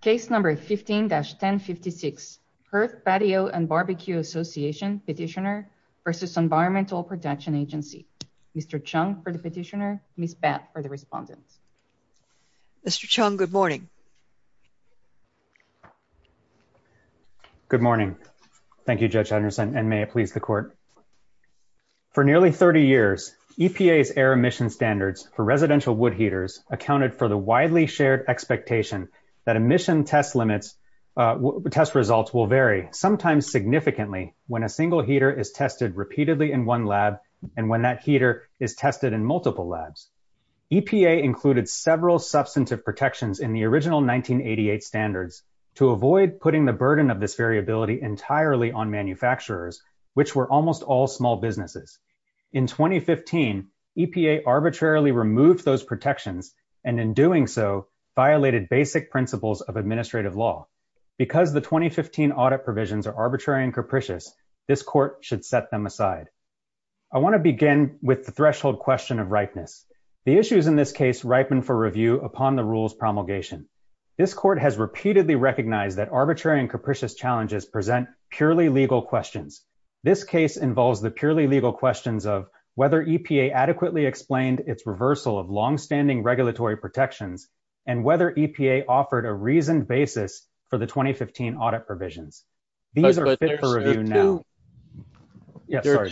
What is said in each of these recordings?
Case No. 15-1056, Hearth, Patio & Barbecue Association Petitioner v. Environmental Protection Agency. Mr. Chung for the petitioner, Ms. Batt for the respondent. Mr. Chung, good morning. Good morning. Thank you, Judge Anderson, and may it please the Court. For nearly 30 years, EPA's air emission standards for residential wood heaters accounted for the emission test results will vary, sometimes significantly, when a single heater is tested repeatedly in one lab and when that heater is tested in multiple labs. EPA included several substantive protections in the original 1988 standards to avoid putting the burden of this variability entirely on manufacturers, which were almost all small businesses. In 2015, EPA arbitrarily removed those protections and in doing so violated basic principles of administrative law. Because the 2015 audit provisions are arbitrary and capricious, this Court should set them aside. I want to begin with the threshold question of ripeness. The issues in this case ripen for review upon the rules promulgation. This Court has repeatedly recognized that arbitrary and capricious challenges present purely legal questions. This involves the purely legal questions of whether EPA adequately explained its reversal of long-standing regulatory protections and whether EPA offered a reasoned basis for the 2015 audit provisions. These are fit for review now. There are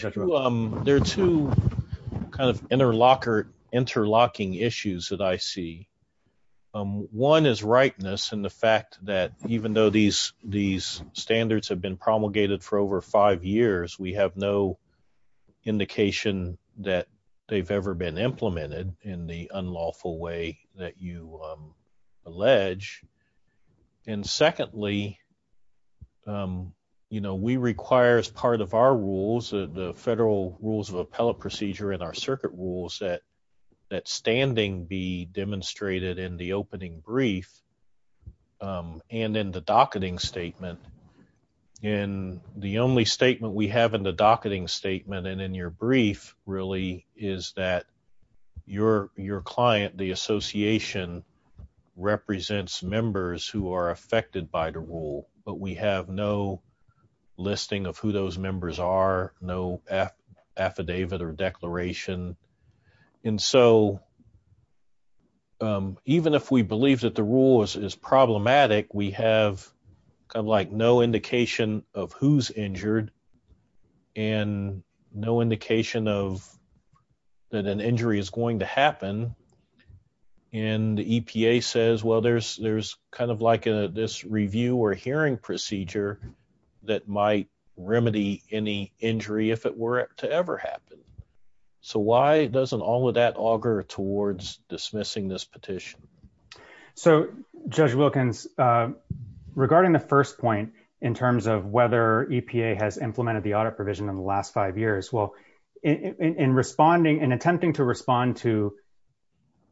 two kind of interlocking issues that I see. One is ripeness and the fact that even though these standards have been promulgated for over five years, we have no indication that they have ever been implemented in the unlawful way that you allege. Secondly, we require as part of our rules, the federal rules of appellate procedure and our circuit rules, that standing be demonstrated in the opening brief and in the docketing statement. In your brief, your client, the association, represents members who are affected by the rule, but we have no listing of who those members are, no affidavit or declaration. And so even if we believe that the rule is problematic, we have kind of like no indication of who's injured and no indication of that an injury is going to happen. And the EPA says, well, there's kind of like this review or hearing procedure that might doesn't all of that auger towards dismissing this petition. So Judge Wilkins, regarding the first point in terms of whether EPA has implemented the audit provision in the last five years, well, in responding and attempting to respond to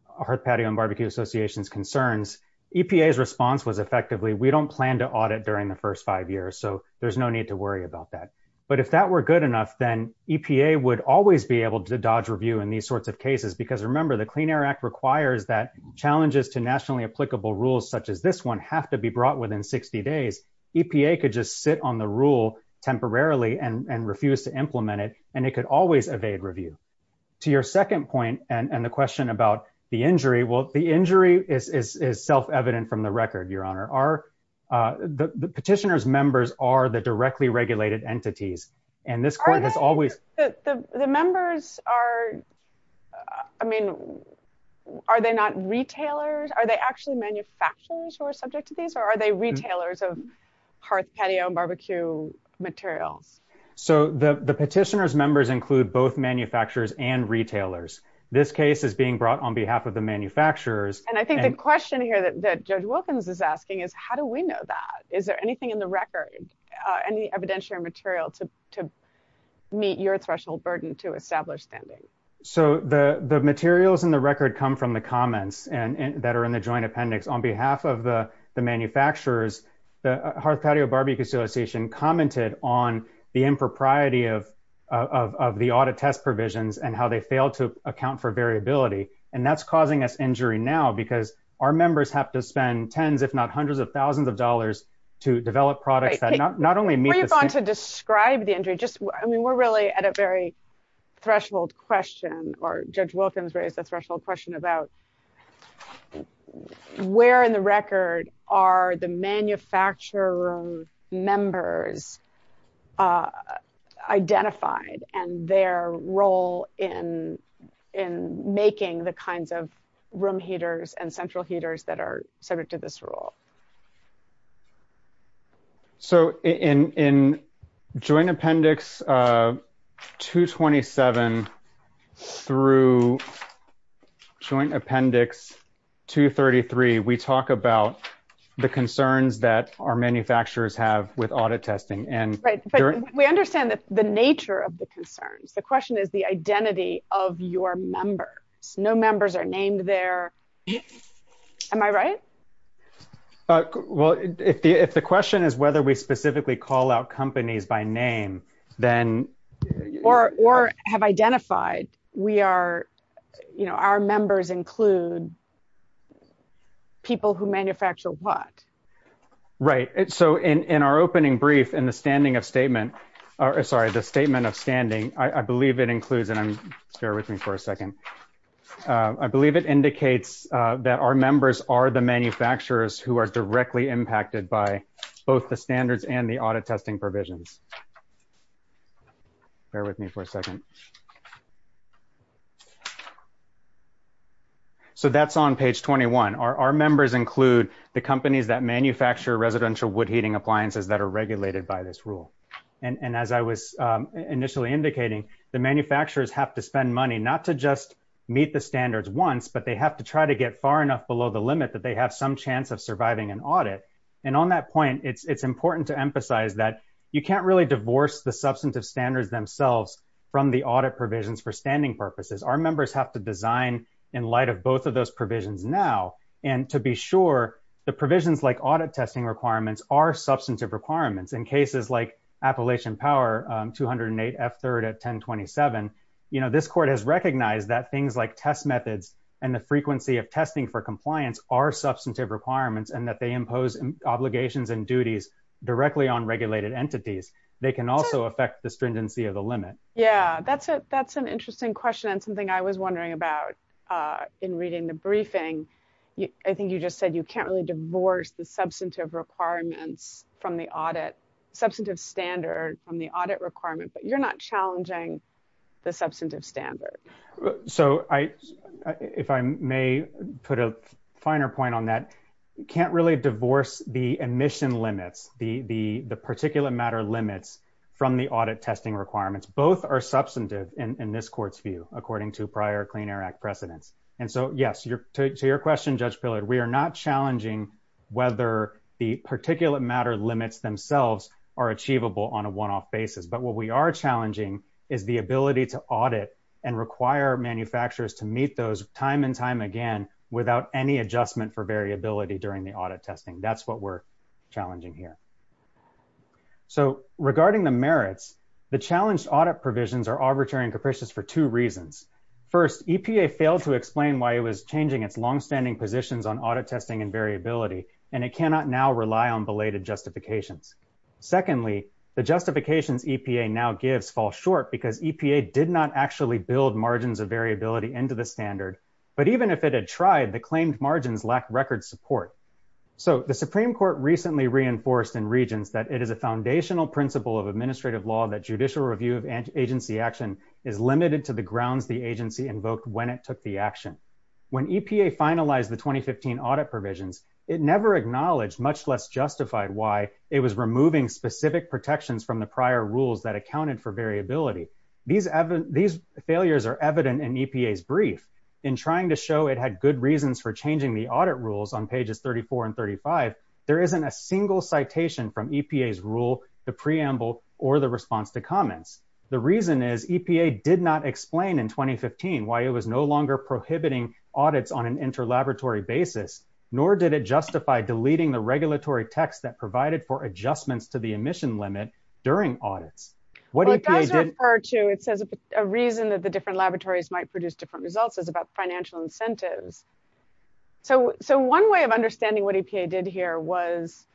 Hearth Patio and Barbecue Association's concerns, EPA's response was effectively, we don't plan to audit during the first five years, so there's no need to worry about that. But if that were good enough, then EPA would always be able to dodge review in these sorts of cases, because remember the Clean Air Act requires that challenges to nationally applicable rules, such as this one, have to be brought within 60 days. EPA could just sit on the rule temporarily and refuse to implement it, and it could always evade review. To your second point, and the question about the injury, well, the injury is self-evident from the record, Your Honor. The petitioner's members are the directly regulated entities, and this court has always- The members are, I mean, are they not retailers? Are they actually manufacturers who are subject to these, or are they retailers of Hearth Patio and Barbecue materials? So the petitioner's members include both manufacturers and retailers. This case is being brought on behalf of the manufacturers- I think the question here that Judge Wilkins is asking is, how do we know that? Is there anything in the record, any evidentiary material to meet your threshold burden to establish standing? So the materials in the record come from the comments that are in the joint appendix. On behalf of the manufacturers, the Hearth Patio Barbecue Association commented on the impropriety of the audit test provisions and how they failed to account for variability, and that's causing us injury now because our members have to spend tens, if not hundreds of thousands of dollars to develop products that not only meet- Before you go on to describe the injury, just, I mean, we're really at a very threshold question, or Judge Wilkins raised a threshold question about where in the record are the manufacturer members identified and their role in making the kinds of room heaters and central heaters that are subject to this rule? So in joint appendix 227 through joint appendix 233, we talk about the concerns that our manufacturers have with audit testing and- Right, but we understand the nature of the concerns. The question is the identity of your members. No members are named there. Am I right? Well, if the question is whether we specifically call out companies by name, then- Or have identified we are, you know, our members include people who manufacture what? Right. So in our opening brief, in the standing of statement, or sorry, the statement of standing, I believe it includes, and I'm, bear with me for a second. I believe it indicates that our members are the manufacturers who are directly impacted by both the standards and the audit testing provisions. Bear with me for a second. So that's on page 21. Our members include the companies that manufacture residential wood heating appliances that are regulated by this rule. And as I was initially indicating, the manufacturers have to spend money not to just meet the standards once, but they have to try to get far enough below the limit that they have some chance of surviving an audit. And on that point, it's important to emphasize that you can't really divorce the substantive standards themselves from the audit provisions for standing purposes. Our members have to design in light of both of those provisions now, and to be sure the provisions like audit testing requirements are substantive requirements. In cases like Appalachian Power, 208 F3rd at 1027, you know, this court has recognized that things like test methods and the frequency of testing for compliance are substantive requirements and that they impose obligations and duties directly on regulated entities. They can also affect the stringency of the limit. Yeah, that's an interesting question and something I was wondering about in reading the briefing. I think you just said you can't really divorce the substantive requirements from the audit, substantive standard from the audit requirement, but you're not challenging the substantive standard. So if I may put a finer point on that, you can't really divorce the emission limits, the particulate matter limits from the audit testing requirements. Both are substantive in this court's view, according to prior Clean Air Act precedents. And so yes, to your question, Judge Pillard, we are not challenging whether the particulate matter limits themselves are achievable on a one-off basis, but what we are challenging is the ability to audit and require manufacturers to meet those time and time again without any adjustment for variability during the audit testing. That's what we're challenging here. So regarding the merits, the challenged audit provisions are arbitrary and capricious for two reasons. First, EPA failed to explain why it was changing its long-standing positions on audit testing and variability, and it cannot now rely on belated justifications. Secondly, the justifications EPA now gives fall short because EPA did not actually build margins of variability into the standard, but even if it had tried, the claimed margins lack record support. So the Supreme Court recently reinforced in Regents that it is a foundational principle of administrative law that judicial review of agency action is limited to the grounds the agency invoked when it took the action. When EPA finalized the 2015 audit provisions, it never acknowledged, much less justified, why it was removing specific protections from prior rules that accounted for variability. These failures are evident in EPA's brief. In trying to show it had good reasons for changing the audit rules on pages 34 and 35, there isn't a single citation from EPA's rule, the preamble, or the response to comments. The reason is EPA did not explain in 2015 why it was no longer prohibiting audits on an interlaboratory basis, nor did it justify deleting the regulatory text that provided for adjustments to the emission limit during audits. Well, it does refer to, it says a reason that the different laboratories might produce different results is about financial incentives. So one way of understanding what EPA did here was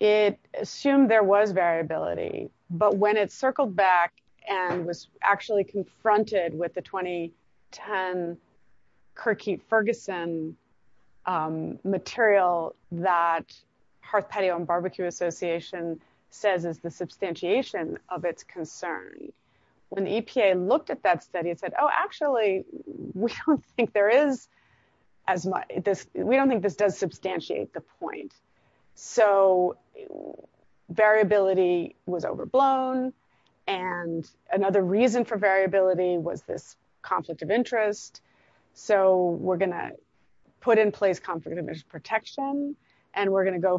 it assumed there was variability, but when it circled back and was actually confronted with the 2010 Kirkheap-Ferguson material that Hearth, Petio, and Barbecue Association says is the substantiation of its concern, when the EPA looked at that study, it said, oh, actually, we don't think there is as much, we don't think this does substantiate the point. So variability was overblown, and another reason for variability was this conflict of interest. So we're going to put in place conflict of interest protection, and we're going to go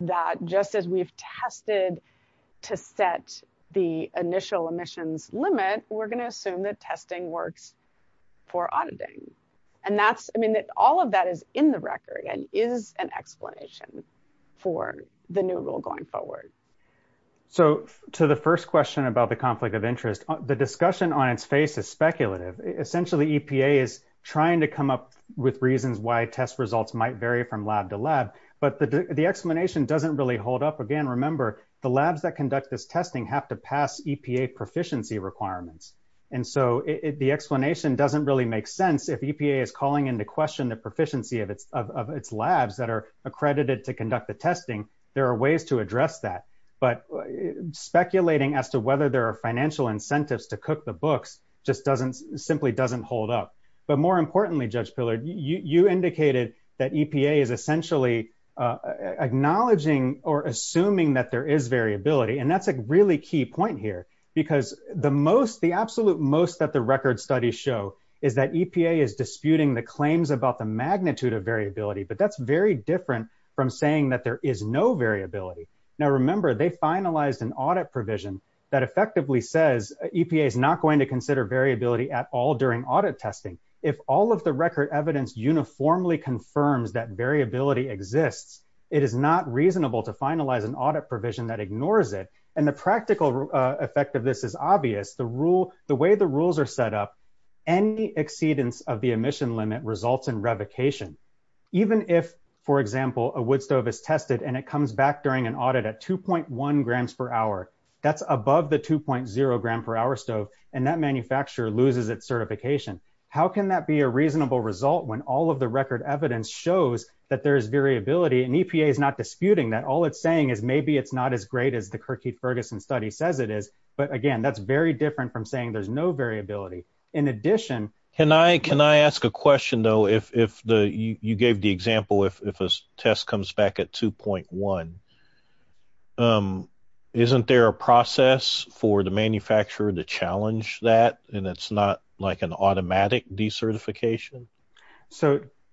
that just as we've tested to set the initial emissions limit, we're going to assume that testing works for auditing. And that's, I mean, all of that is in the record and is an explanation for the new rule going forward. So to the first question about the conflict of interest, the discussion on its face is speculative. Essentially, EPA is trying to come up with Again, remember, the labs that conduct this testing have to pass EPA proficiency requirements. And so the explanation doesn't really make sense. If EPA is calling into question the proficiency of its labs that are accredited to conduct the testing, there are ways to address that. But speculating as to whether there are financial incentives to cook the books just doesn't, simply doesn't hold up. But more importantly, Judge Pillard, you indicated that EPA is essentially acknowledging or assuming that there is variability, and that's a really key point here. Because the absolute most that the record studies show is that EPA is disputing the claims about the magnitude of variability. But that's very different from saying that there is no variability. Now, remember, they finalized an audit provision that effectively says EPA is not going to consider variability at all during audit testing. If all of the record evidence uniformly confirms that variability exists, it is not reasonable to finalize an audit provision that ignores it. And the practical effect of this is obvious. The way the rules are set up, any exceedance of the emission limit results in revocation. Even if, for example, a wood stove is tested and it comes back during an audit at 2.1 grams per hour, that's above the 2.0 gram per hour stove, and that manufacturer loses its certification. How can that be a reasonable result when all of the record evidence shows that there is variability and EPA is not disputing that? All it's saying is maybe it's not as great as the Kirkheath-Ferguson study says it is. But again, that's very different from saying there's no variability. In addition... Can I ask a question though, if you gave the example, if a test comes back at 2.1, isn't there a process for the manufacturer to challenge that and it's not like an automatic decertification?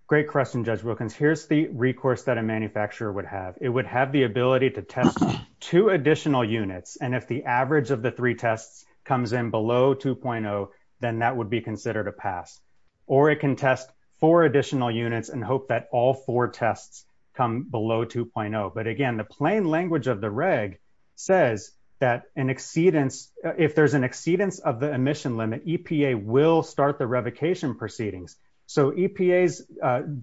Great question, Judge Wilkins. Here's the recourse that a manufacturer would have. It would have the ability to test two additional units, and if the average of the three tests comes in below 2.0, then that would be considered a pass. Or it can test four additional units and hope that all four tests come below 2.0. But again, plain language of the reg says that if there's an exceedance of the emission limit, EPA will start the revocation proceedings. So EPA's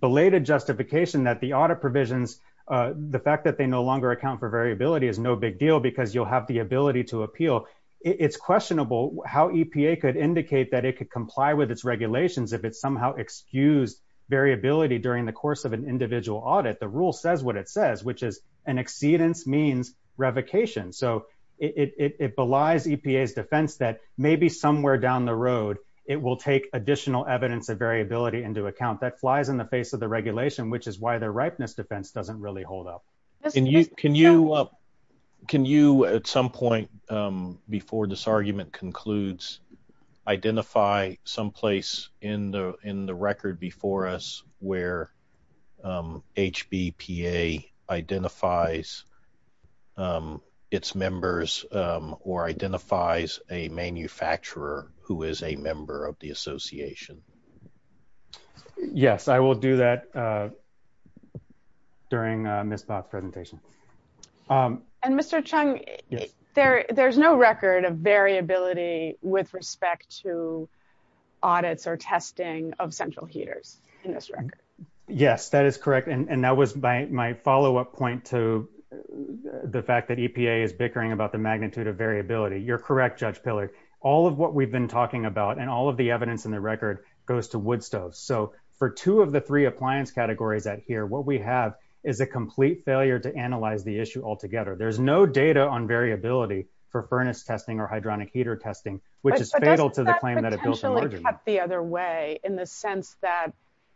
belated justification that the audit provisions, the fact that they no longer account for variability is no big deal because you'll have the ability to appeal. It's questionable how EPA could indicate that it could comply with its regulations if it somehow excused variability during the course of an individual audit. The exceedance means revocation. So it belies EPA's defense that maybe somewhere down the road it will take additional evidence of variability into account. That flies in the face of the regulation, which is why their ripeness defense doesn't really hold up. Can you at some point before this argument concludes identify someplace in the record before us where HBPA identifies its members or identifies a manufacturer who is a member of the association? Yes, I will do that during Ms. Poth's presentation. And Mr. Chung, there's no record of variability with respect to audits or testing of central heaters in this record. Yes, that is correct. And that was my follow-up point to the fact that EPA is bickering about the magnitude of variability. You're correct, Judge Pillard. All of what we've been talking about and all of the evidence in the record goes to Woodstove. So for two of the three appliance categories out here, what we have is a complete failure to analyze the issue altogether. There's no data on variability for furnace testing or hydronic heater testing, which is fatal to the claim that it built in Virginia. But doesn't that potentially cut the other way in the sense that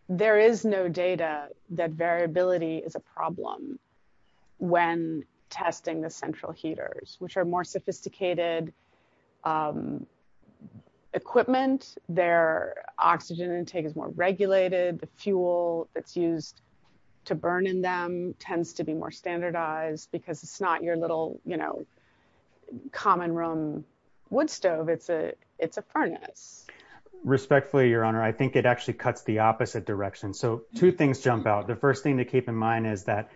there is no data that variability is a problem when testing the central heaters, which are more sophisticated equipment, their oxygen intake is more regulated, the fuel that's used to burn in them tends to be more standardized because it's not your little, you know, common room wood stove. It's a furnace. Respectfully, Your Honor, I think it actually cuts the opposite direction. So two things jump out. The first thing to keep in mind is that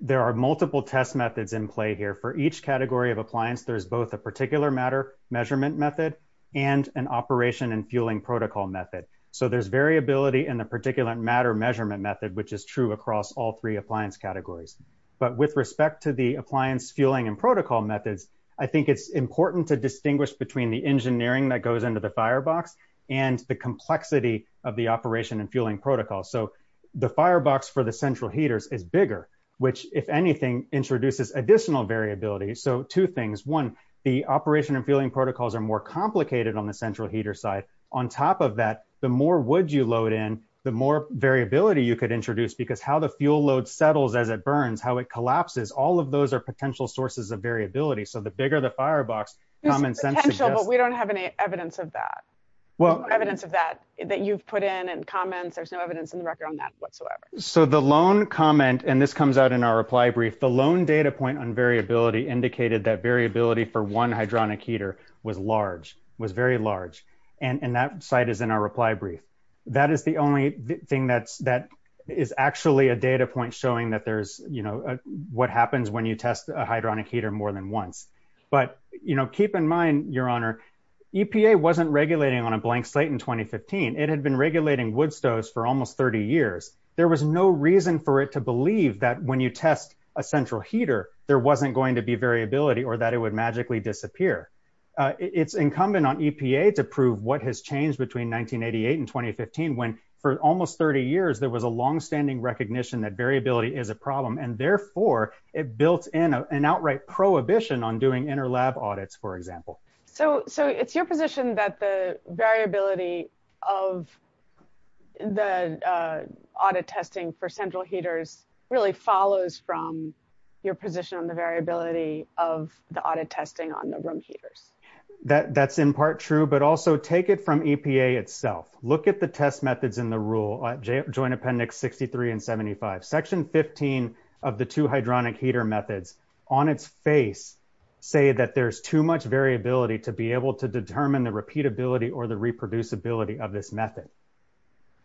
there are multiple test methods in play here for each category of appliance. There's both a particular matter measurement method and an operation and fueling protocol method. So there's variability in the particular matter measurement method, which is true across all three appliance categories. But with respect to the appliance fueling and protocol methods, I think it's important to distinguish between the engineering that goes into the firebox and the complexity of the operation and fueling protocol. So the firebox for the central heaters is bigger, which, if anything, introduces additional variability. So two things. One, the operation and fueling protocols are more complicated on the central heater side. On top of that, the more wood you load in, the more variability you could introduce, because how the fuel load settles as it burns, how it collapses, all of those are potential sources of variability. So the bigger the firebox, common sense suggests... There's potential, but we don't have any evidence that you've put in and comments. There's no evidence in the record on that whatsoever. So the loan comment, and this comes out in our reply brief, the loan data point on variability indicated that variability for one hydronic heater was large, was very large. And that site is in our reply brief. That is the only thing that is actually a data point showing that there's what happens when you test a hydronic heater more than once. But keep in mind, Your Honor, EPA wasn't regulating on a blank slate in 2015. It had been regulating wood stoves for almost 30 years. There was no reason for it to believe that when you test a central heater, there wasn't going to be variability or that it would magically disappear. It's incumbent on EPA to prove what has changed between 1988 and 2015, when for almost 30 years, there was a longstanding recognition that variability is a problem. And therefore, it built in an outright prohibition on doing interlab audits, for example. So it's your position that the variability of the audit testing for central heaters really follows from your position on the variability of the audit testing on the room heaters. That's in part true, but also take it from EPA itself. Look at the test methods in the rule, Joint Appendix 63 and 75, Section 15 of the two hydronic heater methods on its face say that there's too much variability to be able to determine the repeatability or the reproducibility of this method.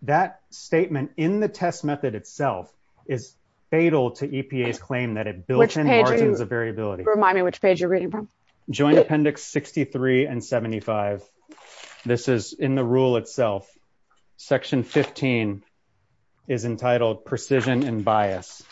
That statement in the test method itself is fatal to EPA's claim that it built in margins of variability. Which page are you reading from? Joint Appendix 63 and 75. This is in the rule itself. Section 15 is entitled Precision and Bias.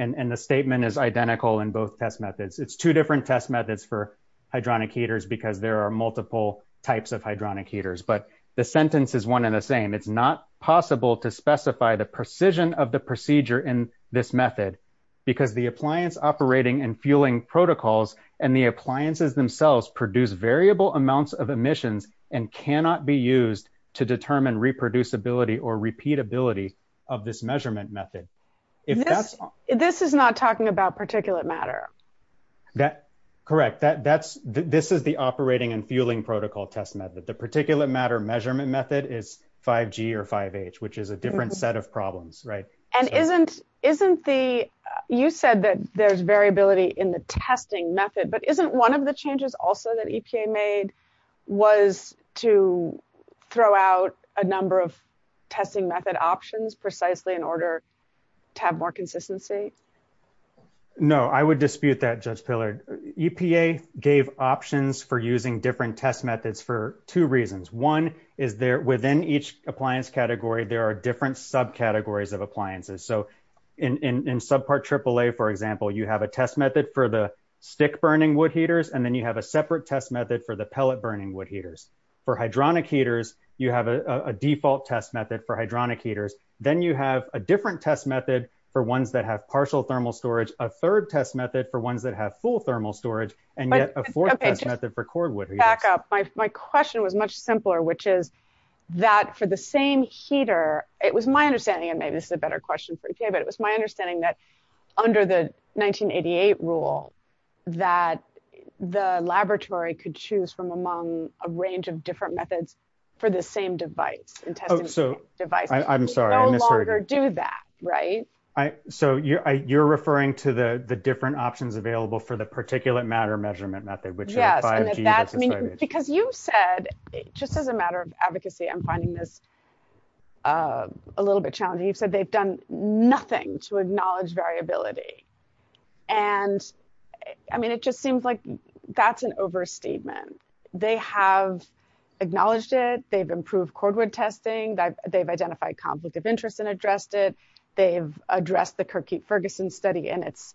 And the statement is identical in both test methods. It's two different test methods for hydronic heaters, because there are multiple types of hydronic heaters. But the sentence is one and the same. It's not possible to specify the precision of the procedure in this method, because the appliance operating and fueling protocols and the appliances themselves produce variable amounts of emissions and cannot be used to determine reproducibility or repeatability of this measurement method. This is not talking about particulate matter. Correct. This is the operating and fueling protocol test method. The particulate matter measurement method is 5G or 5H, which is a different set of problems. You said that there's variability in the testing method, but isn't one of the changes also that precisely in order to have more consistency? No, I would dispute that, Judge Pillard. EPA gave options for using different test methods for two reasons. One is within each appliance category, there are different subcategories of appliances. So in subpart AAA, for example, you have a test method for the stick-burning wood heaters, and then you have a separate test method for the pellet-burning wood heaters. For hydronic heaters, you have a default test method for hydronic heaters. Then you have a different test method for ones that have partial thermal storage, a third test method for ones that have full thermal storage, and yet a fourth test method for cordwood. Back up. My question was much simpler, which is that for the same heater, it was my understanding, and maybe this is a better question for EPA, but it was my understanding that under the 1988 rule that the laboratory could choose from among a range of different methods for the same device and testing devices. We no longer do that, right? So you're referring to the different options available for the particulate matter measurement method, which is 5G. Because you've said, just as a matter of advocacy, I'm finding this a little bit challenging. You've said they've done nothing to acknowledge variability, and I mean, it just seems like that's an overstatement. They have acknowledged it. They've improved cordwood testing. They've identified conflict of interest and addressed it. They've addressed the Kirkheap-Ferguson study in its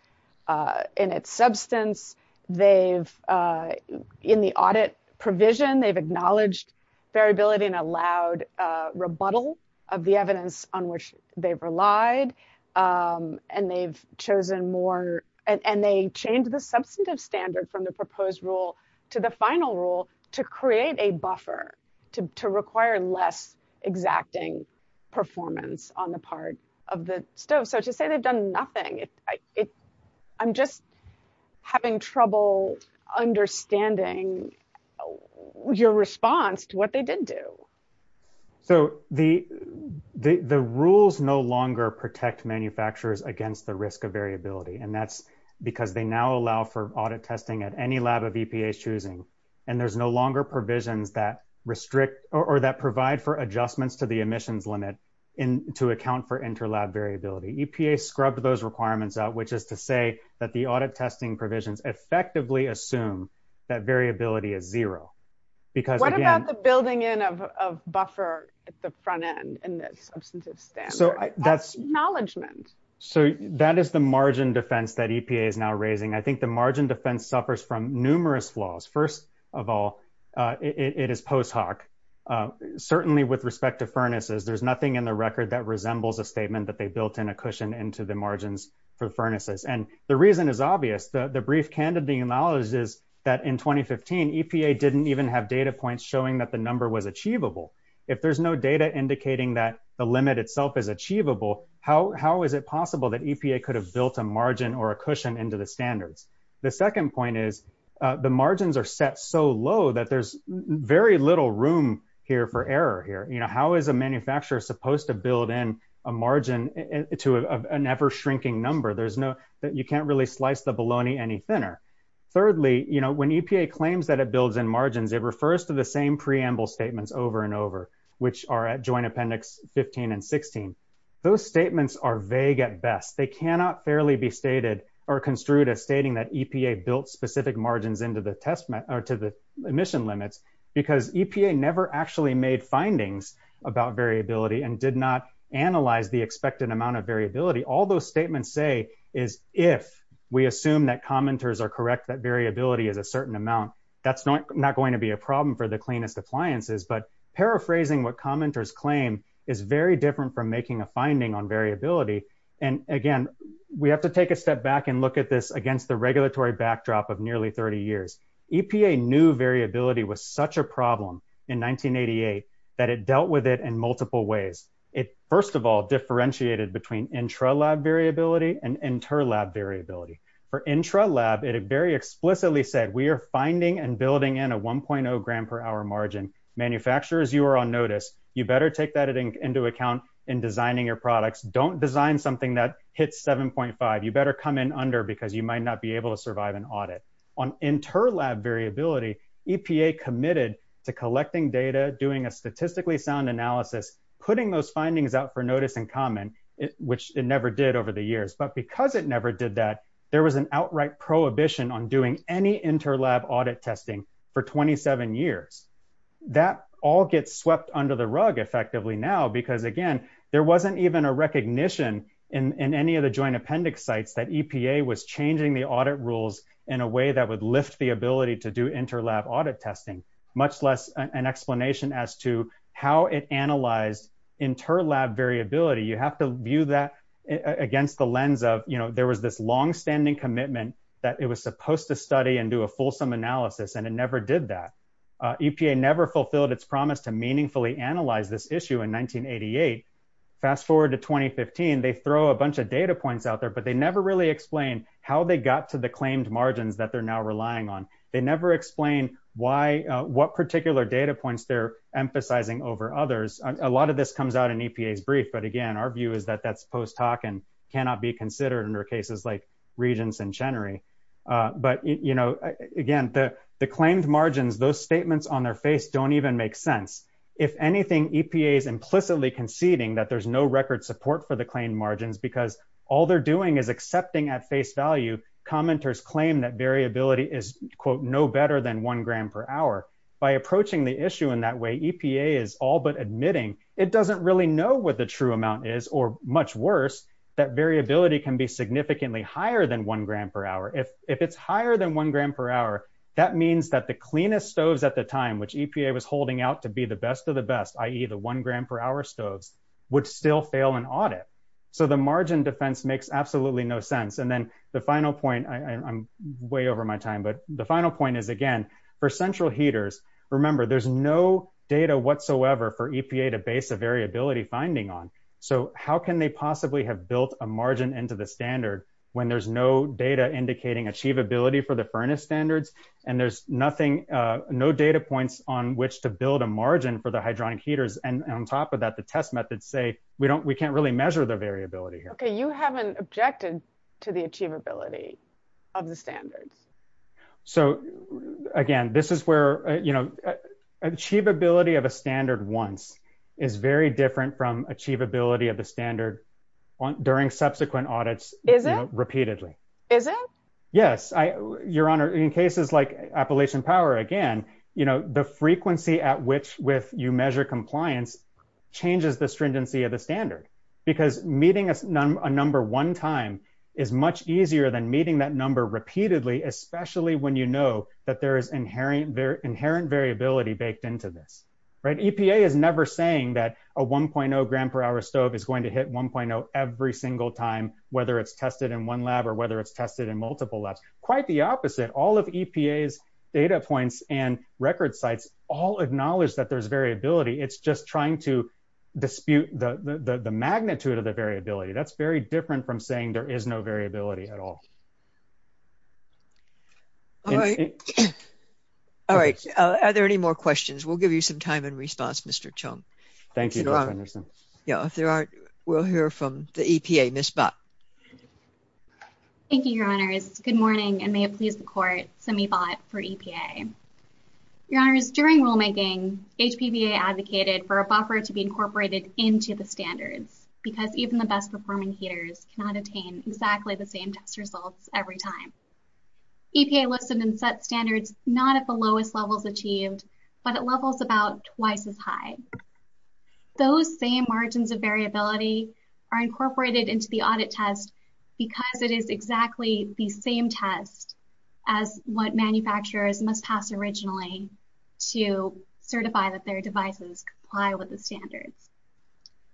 substance. In the audit provision, they've acknowledged variability and allowed rebuttal of the evidence on which they've relied, and they've chosen more, and they changed the substantive standard from the proposed rule to the final rule to create a buffer to require less exacting performance on the part of the stove. So to say they've done nothing, I'm just having trouble understanding your response to what they did do. So the rules no longer protect manufacturers against the risk of variability, and that's because they now allow for audit testing at any lab of EPA's choosing, and there's no longer provisions that provide for adjustments to the emissions limit to account for inter-lab variability. EPA scrubbed those requirements out, which is to say that the audit testing provisions effectively assume that variability is zero. What about the building in of buffer at the front end in the substantive standard? So that is the margin defense that EPA is now raising. I think the margin defense suffers from numerous flaws. First of all, it is post hoc. Certainly with respect to furnaces, there's nothing in the record that resembles a statement that they built in a cushion into the standard. The brief candidate knowledge is that in 2015, EPA didn't even have data points showing that the number was achievable. If there's no data indicating that the limit itself is achievable, how is it possible that EPA could have built a margin or a cushion into the standards? The second point is the margins are set so low that there's very little room here for error here. How is a manufacturer supposed to build in a margin to an ever-shrinking number? You can't really slice the bologna any thinner. Thirdly, when EPA claims that it builds in margins, it refers to the same preamble statements over and over, which are at joint appendix 15 and 16. Those statements are vague at best. They cannot fairly be stated or construed as stating that EPA built specific margins into the emission limits because EPA never actually made findings about variability and did not analyze the expected amount of variability. All those statements say if we assume that commenters are correct that variability is a certain amount, that's not going to be a problem for the cleanest appliances. Paraphrasing what commenters claim is very different from making a finding on variability. Again, we have to take a step back and look at this against the regulatory backdrop of nearly 30 years. EPA knew variability was such a problem in 1988 that it dealt with it in multiple ways. It, first of all, differentiated between intra-lab variability and inter-lab variability. For intra-lab, it very explicitly said we are finding and building in a 1.0 gram per hour margin. Manufacturers, you are on notice. You better take that into account in designing your products. Don't design something that hits 7.5. You better come in under because you might not be able to survive an audit. On inter-lab variability, EPA committed to collecting data, doing a statistically sound analysis, putting those findings out for notice and comment, which it never did over the years. But because it never did that, there was an outright prohibition on doing any inter-lab audit testing for 27 years. That all gets swept under the rug effectively now because, again, there wasn't even a recognition in any of the joint appendix sites that EPA was changing the audit rules in a way that would lift the ability to do inter-lab audit testing, much less an explanation as to how it analyzed inter-lab variability. You have to view that against the lens of, you know, there was this long-standing commitment that it was supposed to study and do a fulsome analysis, and it never did that. EPA never fulfilled its promise to meaningfully analyze this issue in 1988. Fast forward to 2015, they throw a bunch of data points out there, but they never really explain how they got to the claimed margins that they're relying on. They never explain what particular data points they're emphasizing over others. A lot of this comes out in EPA's brief, but again, our view is that that's post hoc and cannot be considered under cases like Regence and Chenery. But, you know, again, the claimed margins, those statements on their face don't even make sense. If anything, EPA is implicitly conceding that there's no record support for the claimed margins because all they're doing is accepting at face value commenters claim that variability is, quote, no better than one gram per hour. By approaching the issue in that way, EPA is all but admitting it doesn't really know what the true amount is, or much worse, that variability can be significantly higher than one gram per hour. If it's higher than one gram per hour, that means that the cleanest stoves at the time, which EPA was holding out to be the best of the best, i.e. the one gram per hour stoves, would still fail an audit. So the margin defense makes absolutely no sense. And then the final point, I'm way over my time, but the final point is, again, for central heaters, remember, there's no data whatsoever for EPA to base a variability finding on. So how can they possibly have built a margin into the standard when there's no data indicating achievability for the furnace standards, and there's nothing, no data points on which to build a margin for the hydronic heaters? And on top of that, the test methods say, we can't really measure the variability here. Okay. You haven't objected to the achievability of the standards. So again, this is where, you know, achievability of a standard once is very different from achievability of the standard during subsequent audits repeatedly. Is it? Yes. Your Honor, in cases like Appalachian Power, again, you know, the frequency at which with you measure compliance changes the stringency of the standard because meeting a number one time is much easier than meeting that number repeatedly, especially when you know that there is inherent variability baked into this, right? EPA is never saying that a 1.0 gram per hour stove is going to hit 1.0 every single time, whether it's tested in one lab or whether it's tested in multiple labs, quite the opposite. All of EPA's data points and record sites all acknowledge that there's variability. It's just trying to dispute the magnitude of the variability. That's very different from saying there is no variability at all. All right. All right. Are there any more questions? We'll give you some time in response, Mr. Chung. Thank you, Judge Henderson. Yeah, if there aren't, we'll hear from the EPA, Ms. Bott. Thank you, Your Honors. Good morning and may it please the Court, Simi Bott for EPA. Your Honors, during rulemaking, HPBA advocated for a buffer to be incorporated into the standards because even the best performing heaters cannot attain exactly the same test results every time. EPA listed and set standards not at the lowest levels achieved, but at levels about twice as high. Those same margins of variability are incorporated into the audit test because it is exactly the same test as what manufacturers must pass originally to certify that their devices comply with the standards.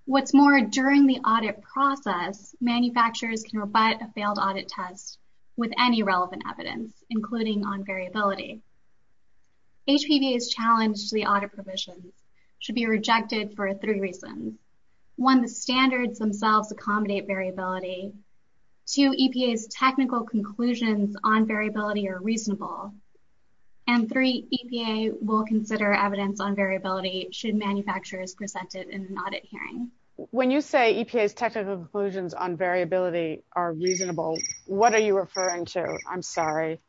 What's more, during the audit process, manufacturers can rebut a failed audit test with any relevant evidence, including on variability. HPBA's challenge to the audit provisions should be rejected for three reasons. One, the standards themselves accommodate variability. Two, EPA's technical conclusions on variability are reasonable. And three, EPA will consider evidence on variability should manufacturers present it in an audit hearing. When you say EPA's technical conclusions on variability are reasonable, what are you referring to? I'm sorry.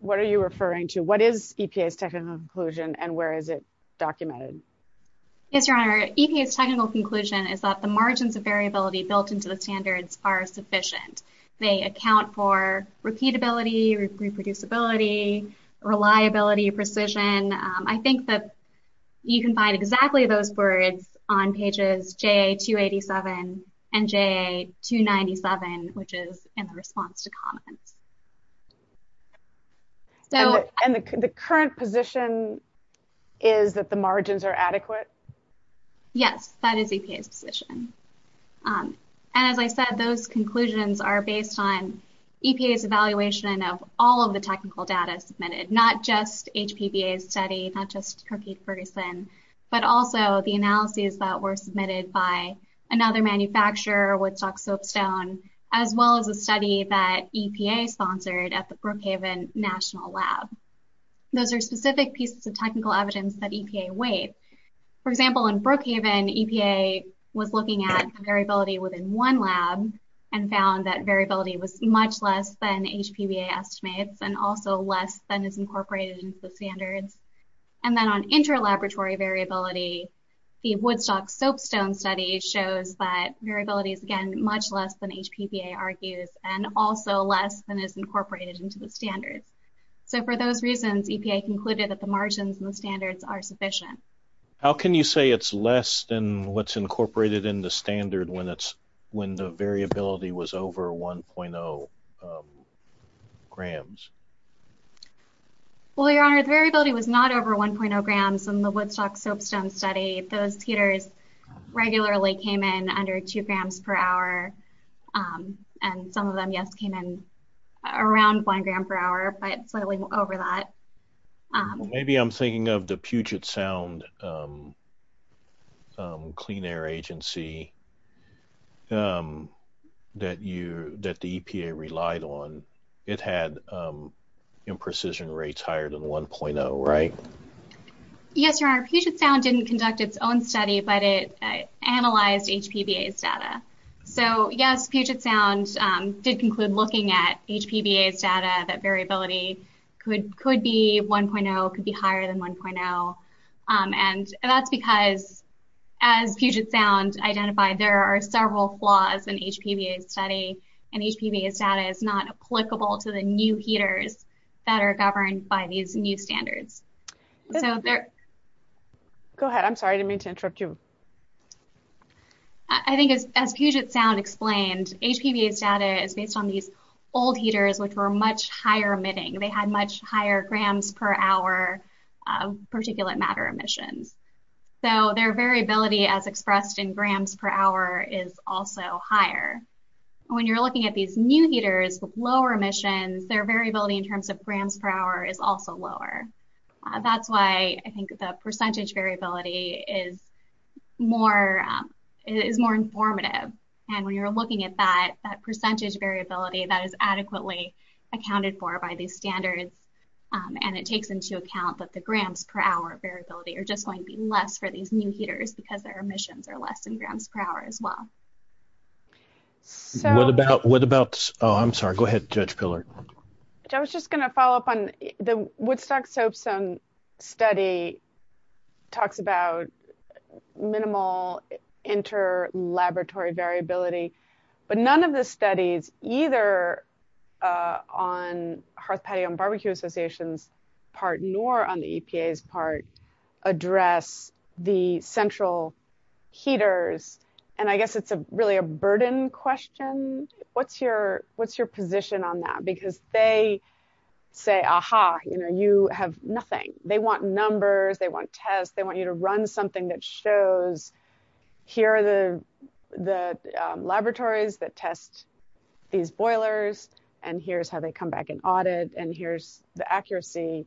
What are you referring to? What is EPA's technical conclusion and where is it documented? Yes, Your Honor. EPA's technical conclusion is that the margins of variability built into the standards are sufficient. They account for repeatability, reproducibility, reliability, precision. I think that you can find exactly those words on pages JA-287 and JA-297, which is in the response to comments. And the current position is that the margins are adequate? Yes, that is EPA's position. And as I said, those conclusions are based on EPA's evaluation of all of the technical data submitted, not just HPBA's study, not just Kirkheide-Ferguson, but also the analyses that were submitted by another manufacturer, Woodstock Soapstone, as well as a study that EPA sponsored at the Brookhaven National Lab. Those are specific pieces of technical evidence that EPA weighed. For example, in Brookhaven, EPA was looking at variability within one lab and found that variability was much less than HPBA estimates and also less than is incorporated into the standards. And then on interlaboratory variability, the Woodstock Soapstone study shows that variability is, again, much less than HPBA argues and also less than is incorporated into the standards. So for those reasons, EPA concluded that the margins and the standards are sufficient. How can you say it's less than what's incorporated in the standard when the variability was over 1.0 grams? Well, your honor, the variability was not over 1.0 grams in the Woodstock Soapstone study. Those heaters regularly came in under two grams per hour. And some of them, yes, came in around one gram per hour, but slightly over that. Maybe I'm thinking of the Puget Sound Clean Air Agency that the EPA relied on. It had imprecision rates higher than 1.0, right? Yes, your honor. Puget Sound didn't conduct its own study, but it analyzed HPBA's data. So yes, Puget Sound did conclude looking at HPBA's data that variability could be 1.0, could be higher than 1.0. And that's because, as Puget Sound identified, there are several flaws in HPBA's study, and HPBA's data is not applicable to the new heaters that are governed by these new standards. Go ahead. I'm sorry. I didn't mean to interrupt you. I think as Puget Sound explained, HPBA's data is based on these old heaters, which were much higher grams per hour particulate matter emissions. So their variability as expressed in grams per hour is also higher. When you're looking at these new heaters with lower emissions, their variability in terms of grams per hour is also lower. That's why I think the percentage variability is more informative. And when you're looking at that, that percentage variability that is adequately accounted for by these standards, and it takes into account that the grams per hour variability are just going to be less for these new heaters because their emissions are less than grams per hour as well. What about, oh, I'm sorry. Go ahead, Judge Pillard. I was just going to follow up on the Woodstock-Sopson study talks about minimal interlaboratory variability, but none of the studies, either on Hearth Patio and Barbecue Association's part nor on the EPA's part, address the central heaters. And I guess it's really a burden question. What's your position on that? Because they say, aha, you have nothing. They want numbers. They want tests. They want you to run something that shows here are the laboratories that test these boilers, and here's how they come back and audit, and here's the accuracy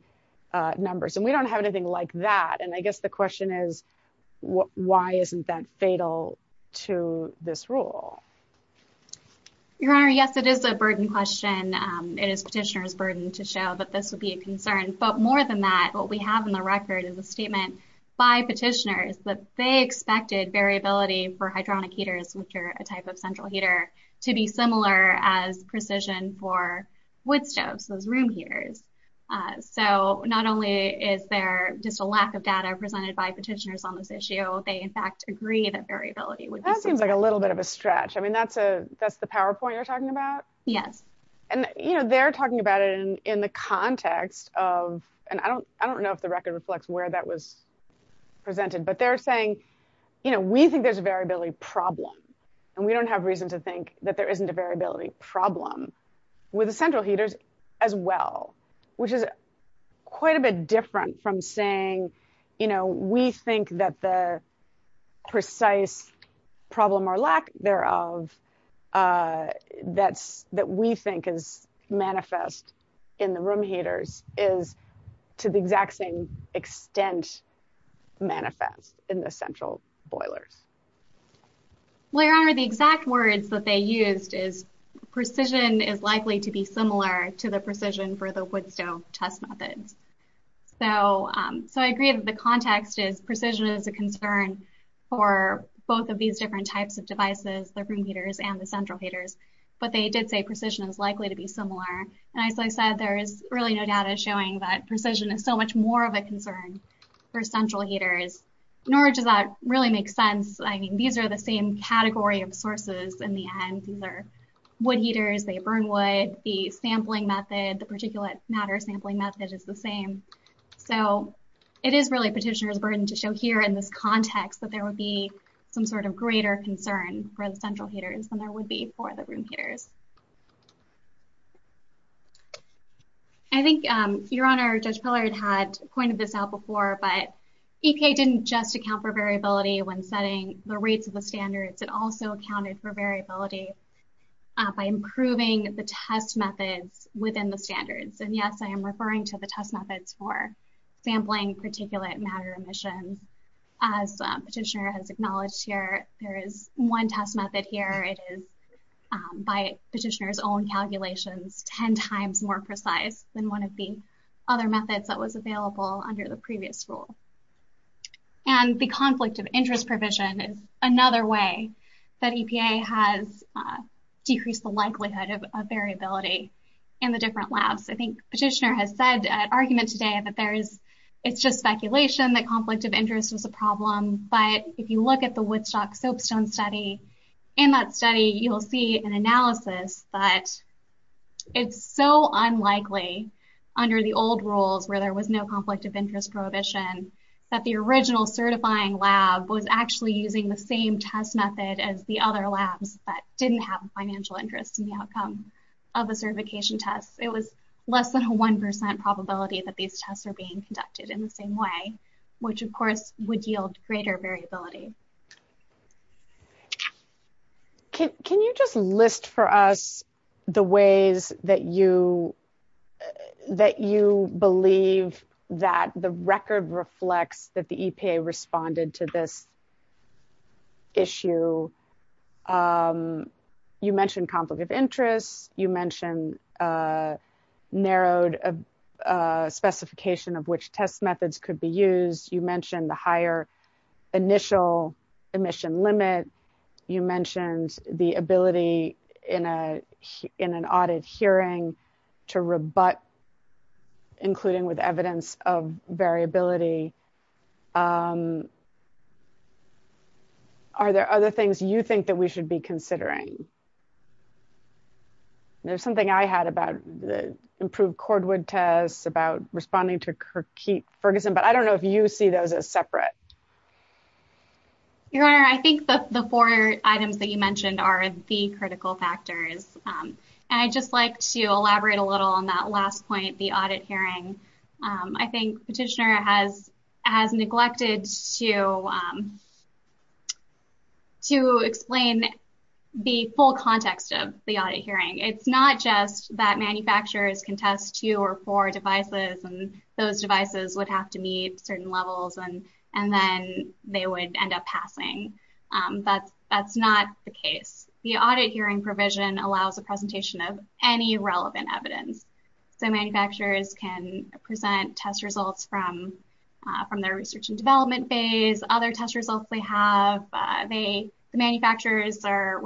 numbers. And we don't have anything like that. And I guess the question is, why isn't that fatal to this rule? Your Honor, yes, it is a burden question. It is petitioner's burden to show that this would be a concern. But more than that, what we have in the record is a statement by petitioners that they expected variability for hydronic heaters, which are a type of central heater, to be similar as precision for wood stoves, those room heaters. So not only is there just a lack of data presented by petitioners on this issue, they, in fact, agree that variability would be similar. That seems like a little bit of a stretch. I mean, that's the PowerPoint you're talking about? Yes. And, you know, they're talking about it in the context of, and I don't know if the record reflects where that was presented, but they're saying, you know, we think there's a variability problem, and we don't have reason to think that there isn't a variability problem with the central heaters as well, which is quite a bit different from saying, you know, we think that the precise problem or lack thereof that we think is manifest in the room heaters is, to the exact same extent, manifest in the central boilers. Well, Your Honor, the exact words that they used is precision is likely to be similar to the precision for the wood stove test methods. So I agree that the context is precision is a concern for both of these different types of devices, the room heaters and the central heaters, but they did say precision is likely to be similar. And as I said, there is really no data showing that precision is so much more of a concern for central heaters, nor does that really make sense. I mean, these are the same category of sources in the end. These are wood heaters, they burn wood, the sampling method, the particulate matter sampling method is the same. So it is really petitioner's burden to show here in this context that there would be some sort of greater concern for the central heaters than there would be for the room heaters. I think Your Honor, Judge Pillard had pointed this out before, but EPA didn't just account for variability when setting the rates of the standards, it also accounted for variability by improving the test methods within the standards. And yes, I am referring to the test methods for sampling particulate matter emissions. As petitioner has acknowledged here, there is one test method here, it is by petitioner's own calculations 10 times more precise than one of the other methods that was available under the that EPA has decreased the likelihood of variability in the different labs. I think petitioner has said an argument today that it is just speculation, that conflict of interest is a problem, but if you look at the Woodstock Soapstone study, in that study you will see an analysis that it is so unlikely under the old rules where there was no conflict of interest that the original certifying lab was actually using the same test method as the other labs that didn't have financial interest in the outcome of the certification test. It was less than a 1% probability that these tests are being conducted in the same way, which of course would yield greater variability. Can you just list for us the ways that you believe that the record reflects that the EPA responded to this issue? You mentioned conflict of interest, you mentioned narrowed specification of which test methods could be used, you mentioned the higher initial emission limit, you mentioned the ability in an audit hearing to rebut, including with evidence of variability. Are there other things you think that we should be considering? There's something I had about the improved cordwood test, about responding to Kirkheap Ferguson, but I don't know if you see those as separate. Your Honor, I think the four items that you mentioned are the critical factors, and I'd just like to elaborate a little on that last point, the audit hearing. I think Petitioner has neglected to explain the full context of the audit hearing. It's not just that manufacturers can test two or four devices and those devices would have to meet certain levels and then they would end up passing. That's not the case. The audit hearing provision allows a presentation of any relevant evidence. Manufacturers can present test results from their research and development phase, other test results they have. The manufacturers are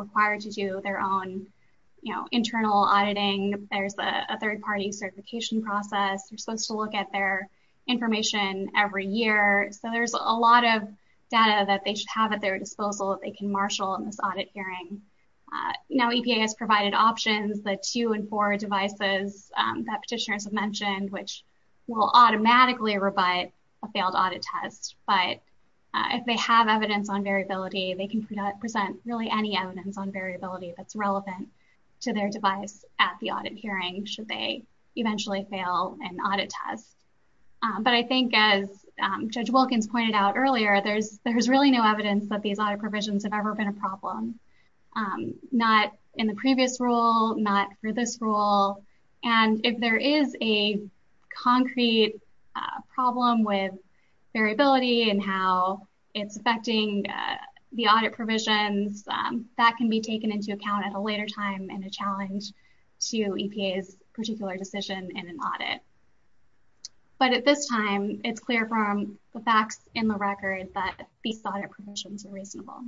a third-party certification process. They're supposed to look at their information every year, so there's a lot of data that they should have at their disposal that they can marshal in this audit hearing. EPA has provided options, the two and four devices that Petitioners have mentioned, which will automatically rebut a failed audit test, but if they have evidence on variability, they can present really any evidence on variability that's relevant to their device at the audit hearing should they eventually fail an audit test, but I think as Judge Wilkins pointed out earlier, there's really no evidence that these audit provisions have ever been a problem, not in the previous rule, not for this rule, and if there is a concrete problem with variability and how it's affecting the audit provisions, that can be taken into account at later time in a challenge to EPA's particular decision in an audit, but at this time, it's clear from the facts in the record that these audit provisions are reasonable.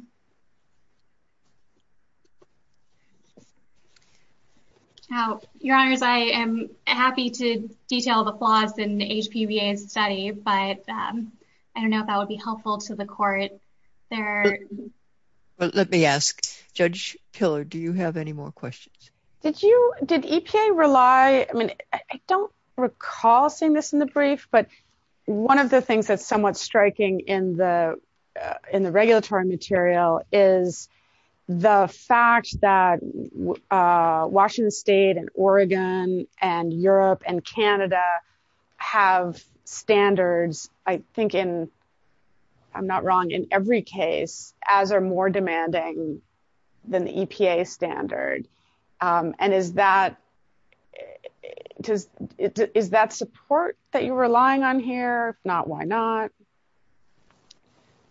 Your Honors, I am happy to detail the flaws in HPBA's study, but I don't know if that would helpful to the court. Let me ask, Judge Pillard, do you have any more questions? Did EPA rely, I mean, I don't recall seeing this in the brief, but one of the things that's somewhat striking in the regulatory material is the fact that Washington State and Oregon and Europe and Canada have standards, I think in, I'm not wrong, in every case, as are more demanding than the EPA standard, and is that support that you're relying on here? If not, why not?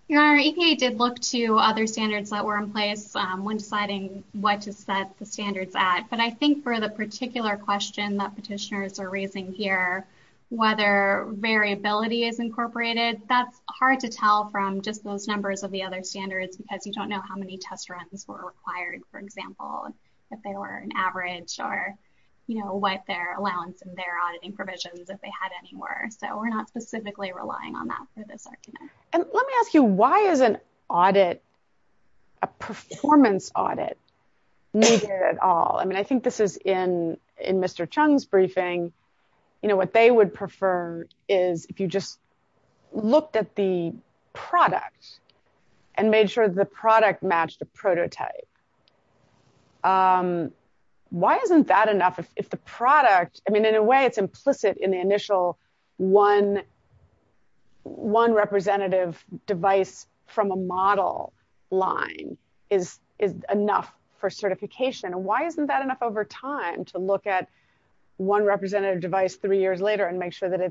Your Honor, EPA did look to other standards that were in place when deciding what to set the standards at, but I think for the particular question that petitioners are raising here, whether variability is incorporated, that's hard to tell from just those numbers of the other standards because you don't know how many test runs were required, for example, if they were an average or, you know, what their allowance and their auditing provisions, if they had any more, so we're not specifically relying on that for this argument. And let me ask you, why is an audit, a performance audit, needed at all? I mean, I think this is in Mr. Chung's briefing, you know, what they would prefer is if you just looked at the product and made sure the product matched a prototype. Why isn't that enough if the product, I mean, in a way it's implicit in the initial one representative device from a model line is enough for certification? And why isn't that enough over time to look at one representative device three years later and make sure that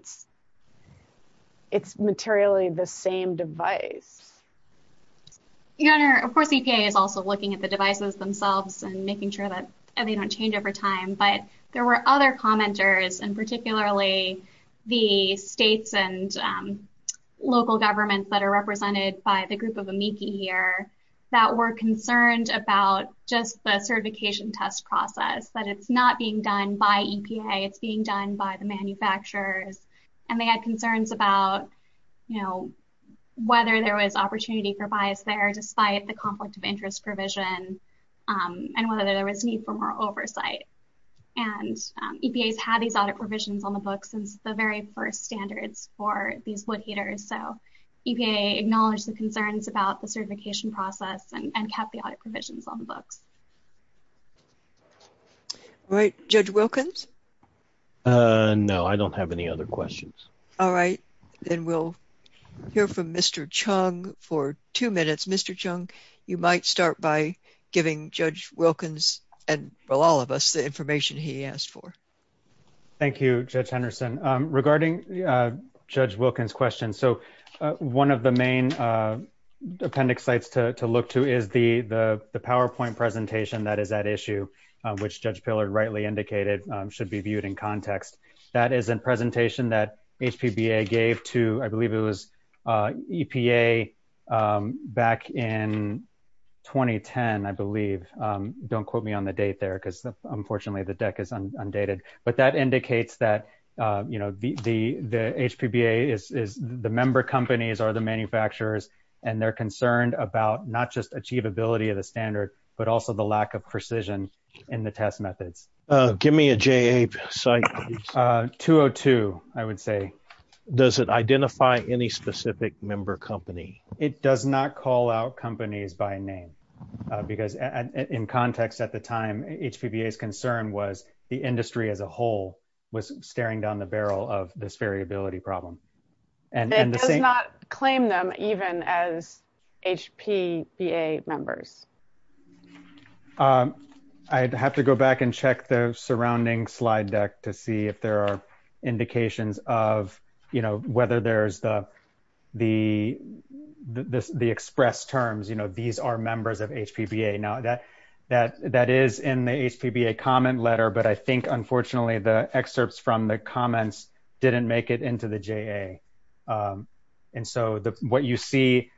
it's materially the same device? Your Honor, of course, EPA is also looking at the devices themselves and making sure that they don't change over time, but there were other commenters and particularly the states and local governments that are represented by the group of amici here that were concerned about just the certification test process, that it's not being done by EPA, it's being done by the manufacturers, and they had concerns about, you know, whether there was opportunity for bias there despite the conflict of interest provision and whether there was need for more oversight. And EPA's had these audit provisions on the books since the very first standards for these wood heaters, so EPA acknowledged the concerns about the certification process and kept the audit provisions on the books. All right, Judge Wilkins? No, I don't have any other questions. All right, then we'll hear from Mr. Chung for two minutes. Mr. Wilkins, and for all of us, the information he asked for. Thank you, Judge Henderson. Regarding Judge Wilkins' question, so one of the main appendix sites to look to is the PowerPoint presentation that is at issue, which Judge Pillard rightly indicated should be viewed in context. That is a presentation that HPBA gave to, I believe it was EPA back in 2010, I believe. Don't quote me on the date there because unfortunately the deck is undated, but that indicates that, you know, the HPBA is, the member companies are the manufacturers, and they're concerned about not just achievability of the standard, but also the lack of precision in the methods. Give me a JA site. 202, I would say. Does it identify any specific member company? It does not call out companies by name because in context at the time, HPBA's concern was the industry as a whole was staring down the barrel of this variability problem. It does not claim them even as HPBA members. I'd have to go back and check the surrounding slide deck to see if there are indications of, you know, whether there's the express terms, you know, these are members of HPBA. Now that is in the HPBA comment letter, but I think unfortunately the excerpts from the comments are not in the HPBA. And so what you see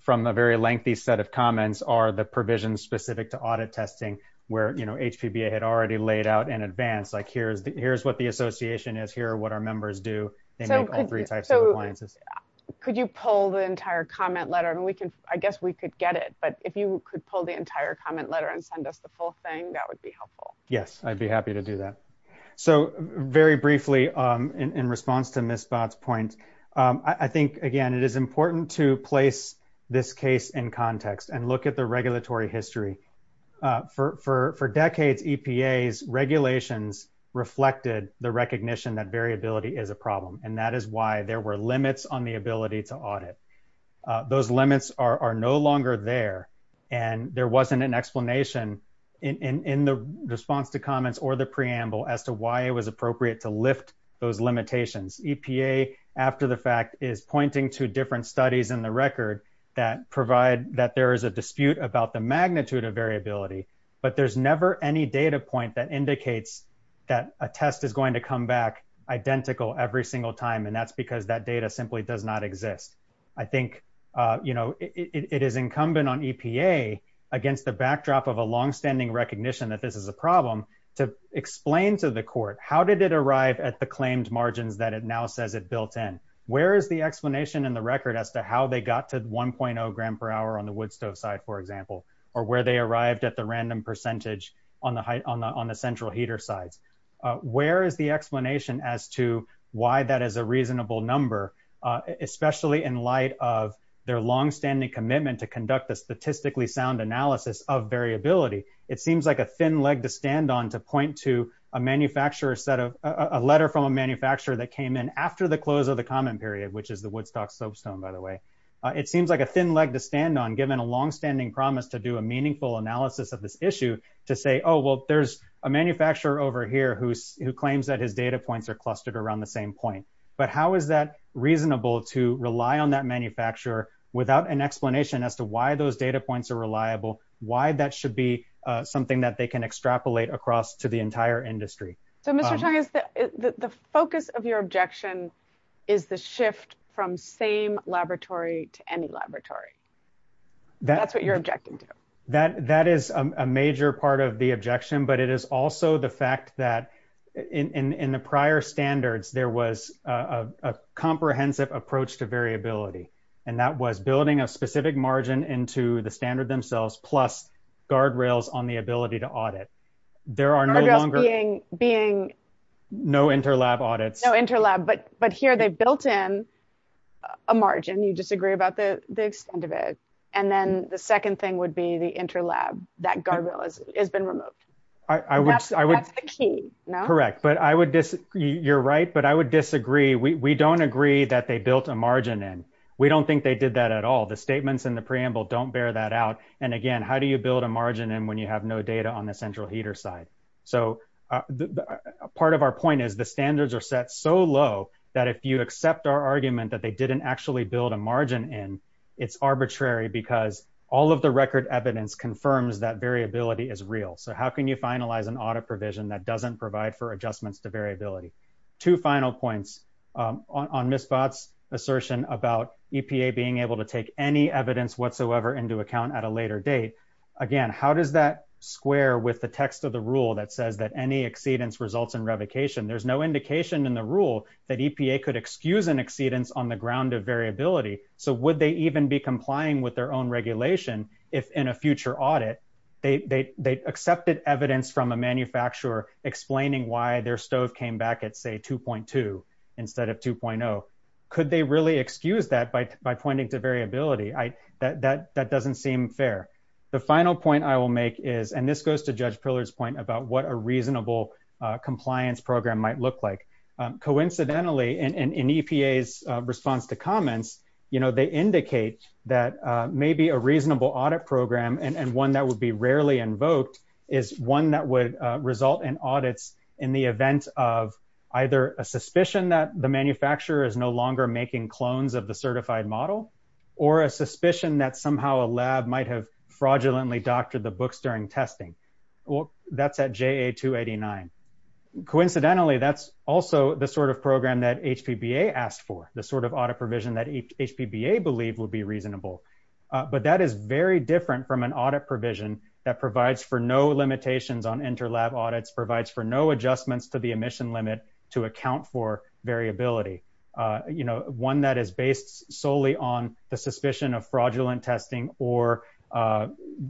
from a very lengthy set of comments are the provisions specific to audit testing where, you know, HPBA had already laid out in advance, like, here's what the association is, here are what our members do. They make all three types of appliances. Could you pull the entire comment letter? And we can, I guess we could get it, but if you could pull the entire comment letter and send us the full thing, that would be helpful. Yes, I'd be happy to do that. So very briefly in response to Ms. Bott's point, I think, again, it is important to place this case in context and look at the regulatory history. For decades, EPA's regulations reflected the recognition that variability is a problem, and that is why there were limits on the ability to audit. Those limits are no longer there, and there wasn't an comments or the preamble as to why it was appropriate to lift those limitations. EPA, after the fact, is pointing to different studies in the record that provide that there is a dispute about the magnitude of variability, but there's never any data point that indicates that a test is going to come back identical every single time, and that's because that data simply does not exist. I think, you know, it is incumbent on EPA against the backdrop of a longstanding recognition that this is a problem to explain to the court, how did it arrive at the claimed margins that it now says it built in? Where is the explanation in the record as to how they got to 1.0 gram per hour on the wood stove side, for example, or where they arrived at the random percentage on the central heater sides? Where is the explanation as to why that is a reasonable number, especially in light of their longstanding commitment to conduct a statistically sound analysis of variability? It seems like a thin leg to stand on to point to a letter from a manufacturer that came in after the close of the common period, which is the Woodstock soapstone, by the way. It seems like a thin leg to stand on, given a long-standing promise to do a meaningful analysis of this issue, to say, oh, well, there's a manufacturer over here who claims that his data points are clustered around the same point, but how is that reasonable to rely on that manufacturer without an explanation as to why those data points are reliable, why that should be something that they can extrapolate across to the entire industry? So, Mr. Chang, the focus of your objection is the shift from same laboratory to any laboratory. That's what you're objecting to. That is a major part of the objection, but it is also the fact that in the prior standards, there was a comprehensive approach to variability, and that was building a specific margin into the standard themselves, plus guard rails on the ability to audit. There are no longer being no interlab audits. No interlab, but here they've built in a margin. You disagree about the extent of it, and then the second thing would be the interlab, that guardrail has been removed. That's the key, no? Correct, but I would disagree. You're right, but I would disagree. We don't agree that they built a margin in. We don't think they did that at all. The statements in the preamble don't bear that out, and again, how do you build a margin in when you have no data on the central heater side? So, part of our point is the standards are set so low that if you accept our argument that they didn't actually build a margin in, it's arbitrary because all of the record evidence confirms that variability is real. So, how can you finalize an audit provision that doesn't provide for two final points on Ms. Bott's assertion about EPA being able to take any evidence whatsoever into account at a later date? Again, how does that square with the text of the rule that says that any exceedance results in revocation? There's no indication in the rule that EPA could excuse an exceedance on the ground of variability, so would they even be complying with their own regulation if in a future audit they accepted evidence from a manufacturer explaining why their stove came back at, say, 2.2 instead of 2.0? Could they really excuse that by pointing to variability? That doesn't seem fair. The final point I will make is, and this goes to Judge Pillard's point about what a reasonable compliance program might look like. Coincidentally, in EPA's response to comments, they indicate that maybe a reasonable audit program and one that would be rarely invoked is one that would result in audits in the event of either a suspicion that the manufacturer is no longer making clones of the certified model or a suspicion that somehow a lab might have fraudulently doctored the books during testing. Well, that's at JA-289. Coincidentally, that's also the sort of program that HPBA asked for, the sort of audit provision that HPBA believed would reasonable. But that is very different from an audit provision that provides for no limitations on inter-lab audits, provides for no adjustments to the emission limit to account for variability. One that is based solely on the suspicion of fraudulent testing or a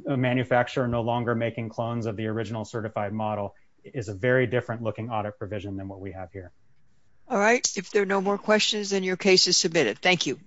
manufacturer no longer making clones of the original certified model is a very different looking audit provision than what we have here. All right. If there are no more questions, then your case is submitted. Thank you.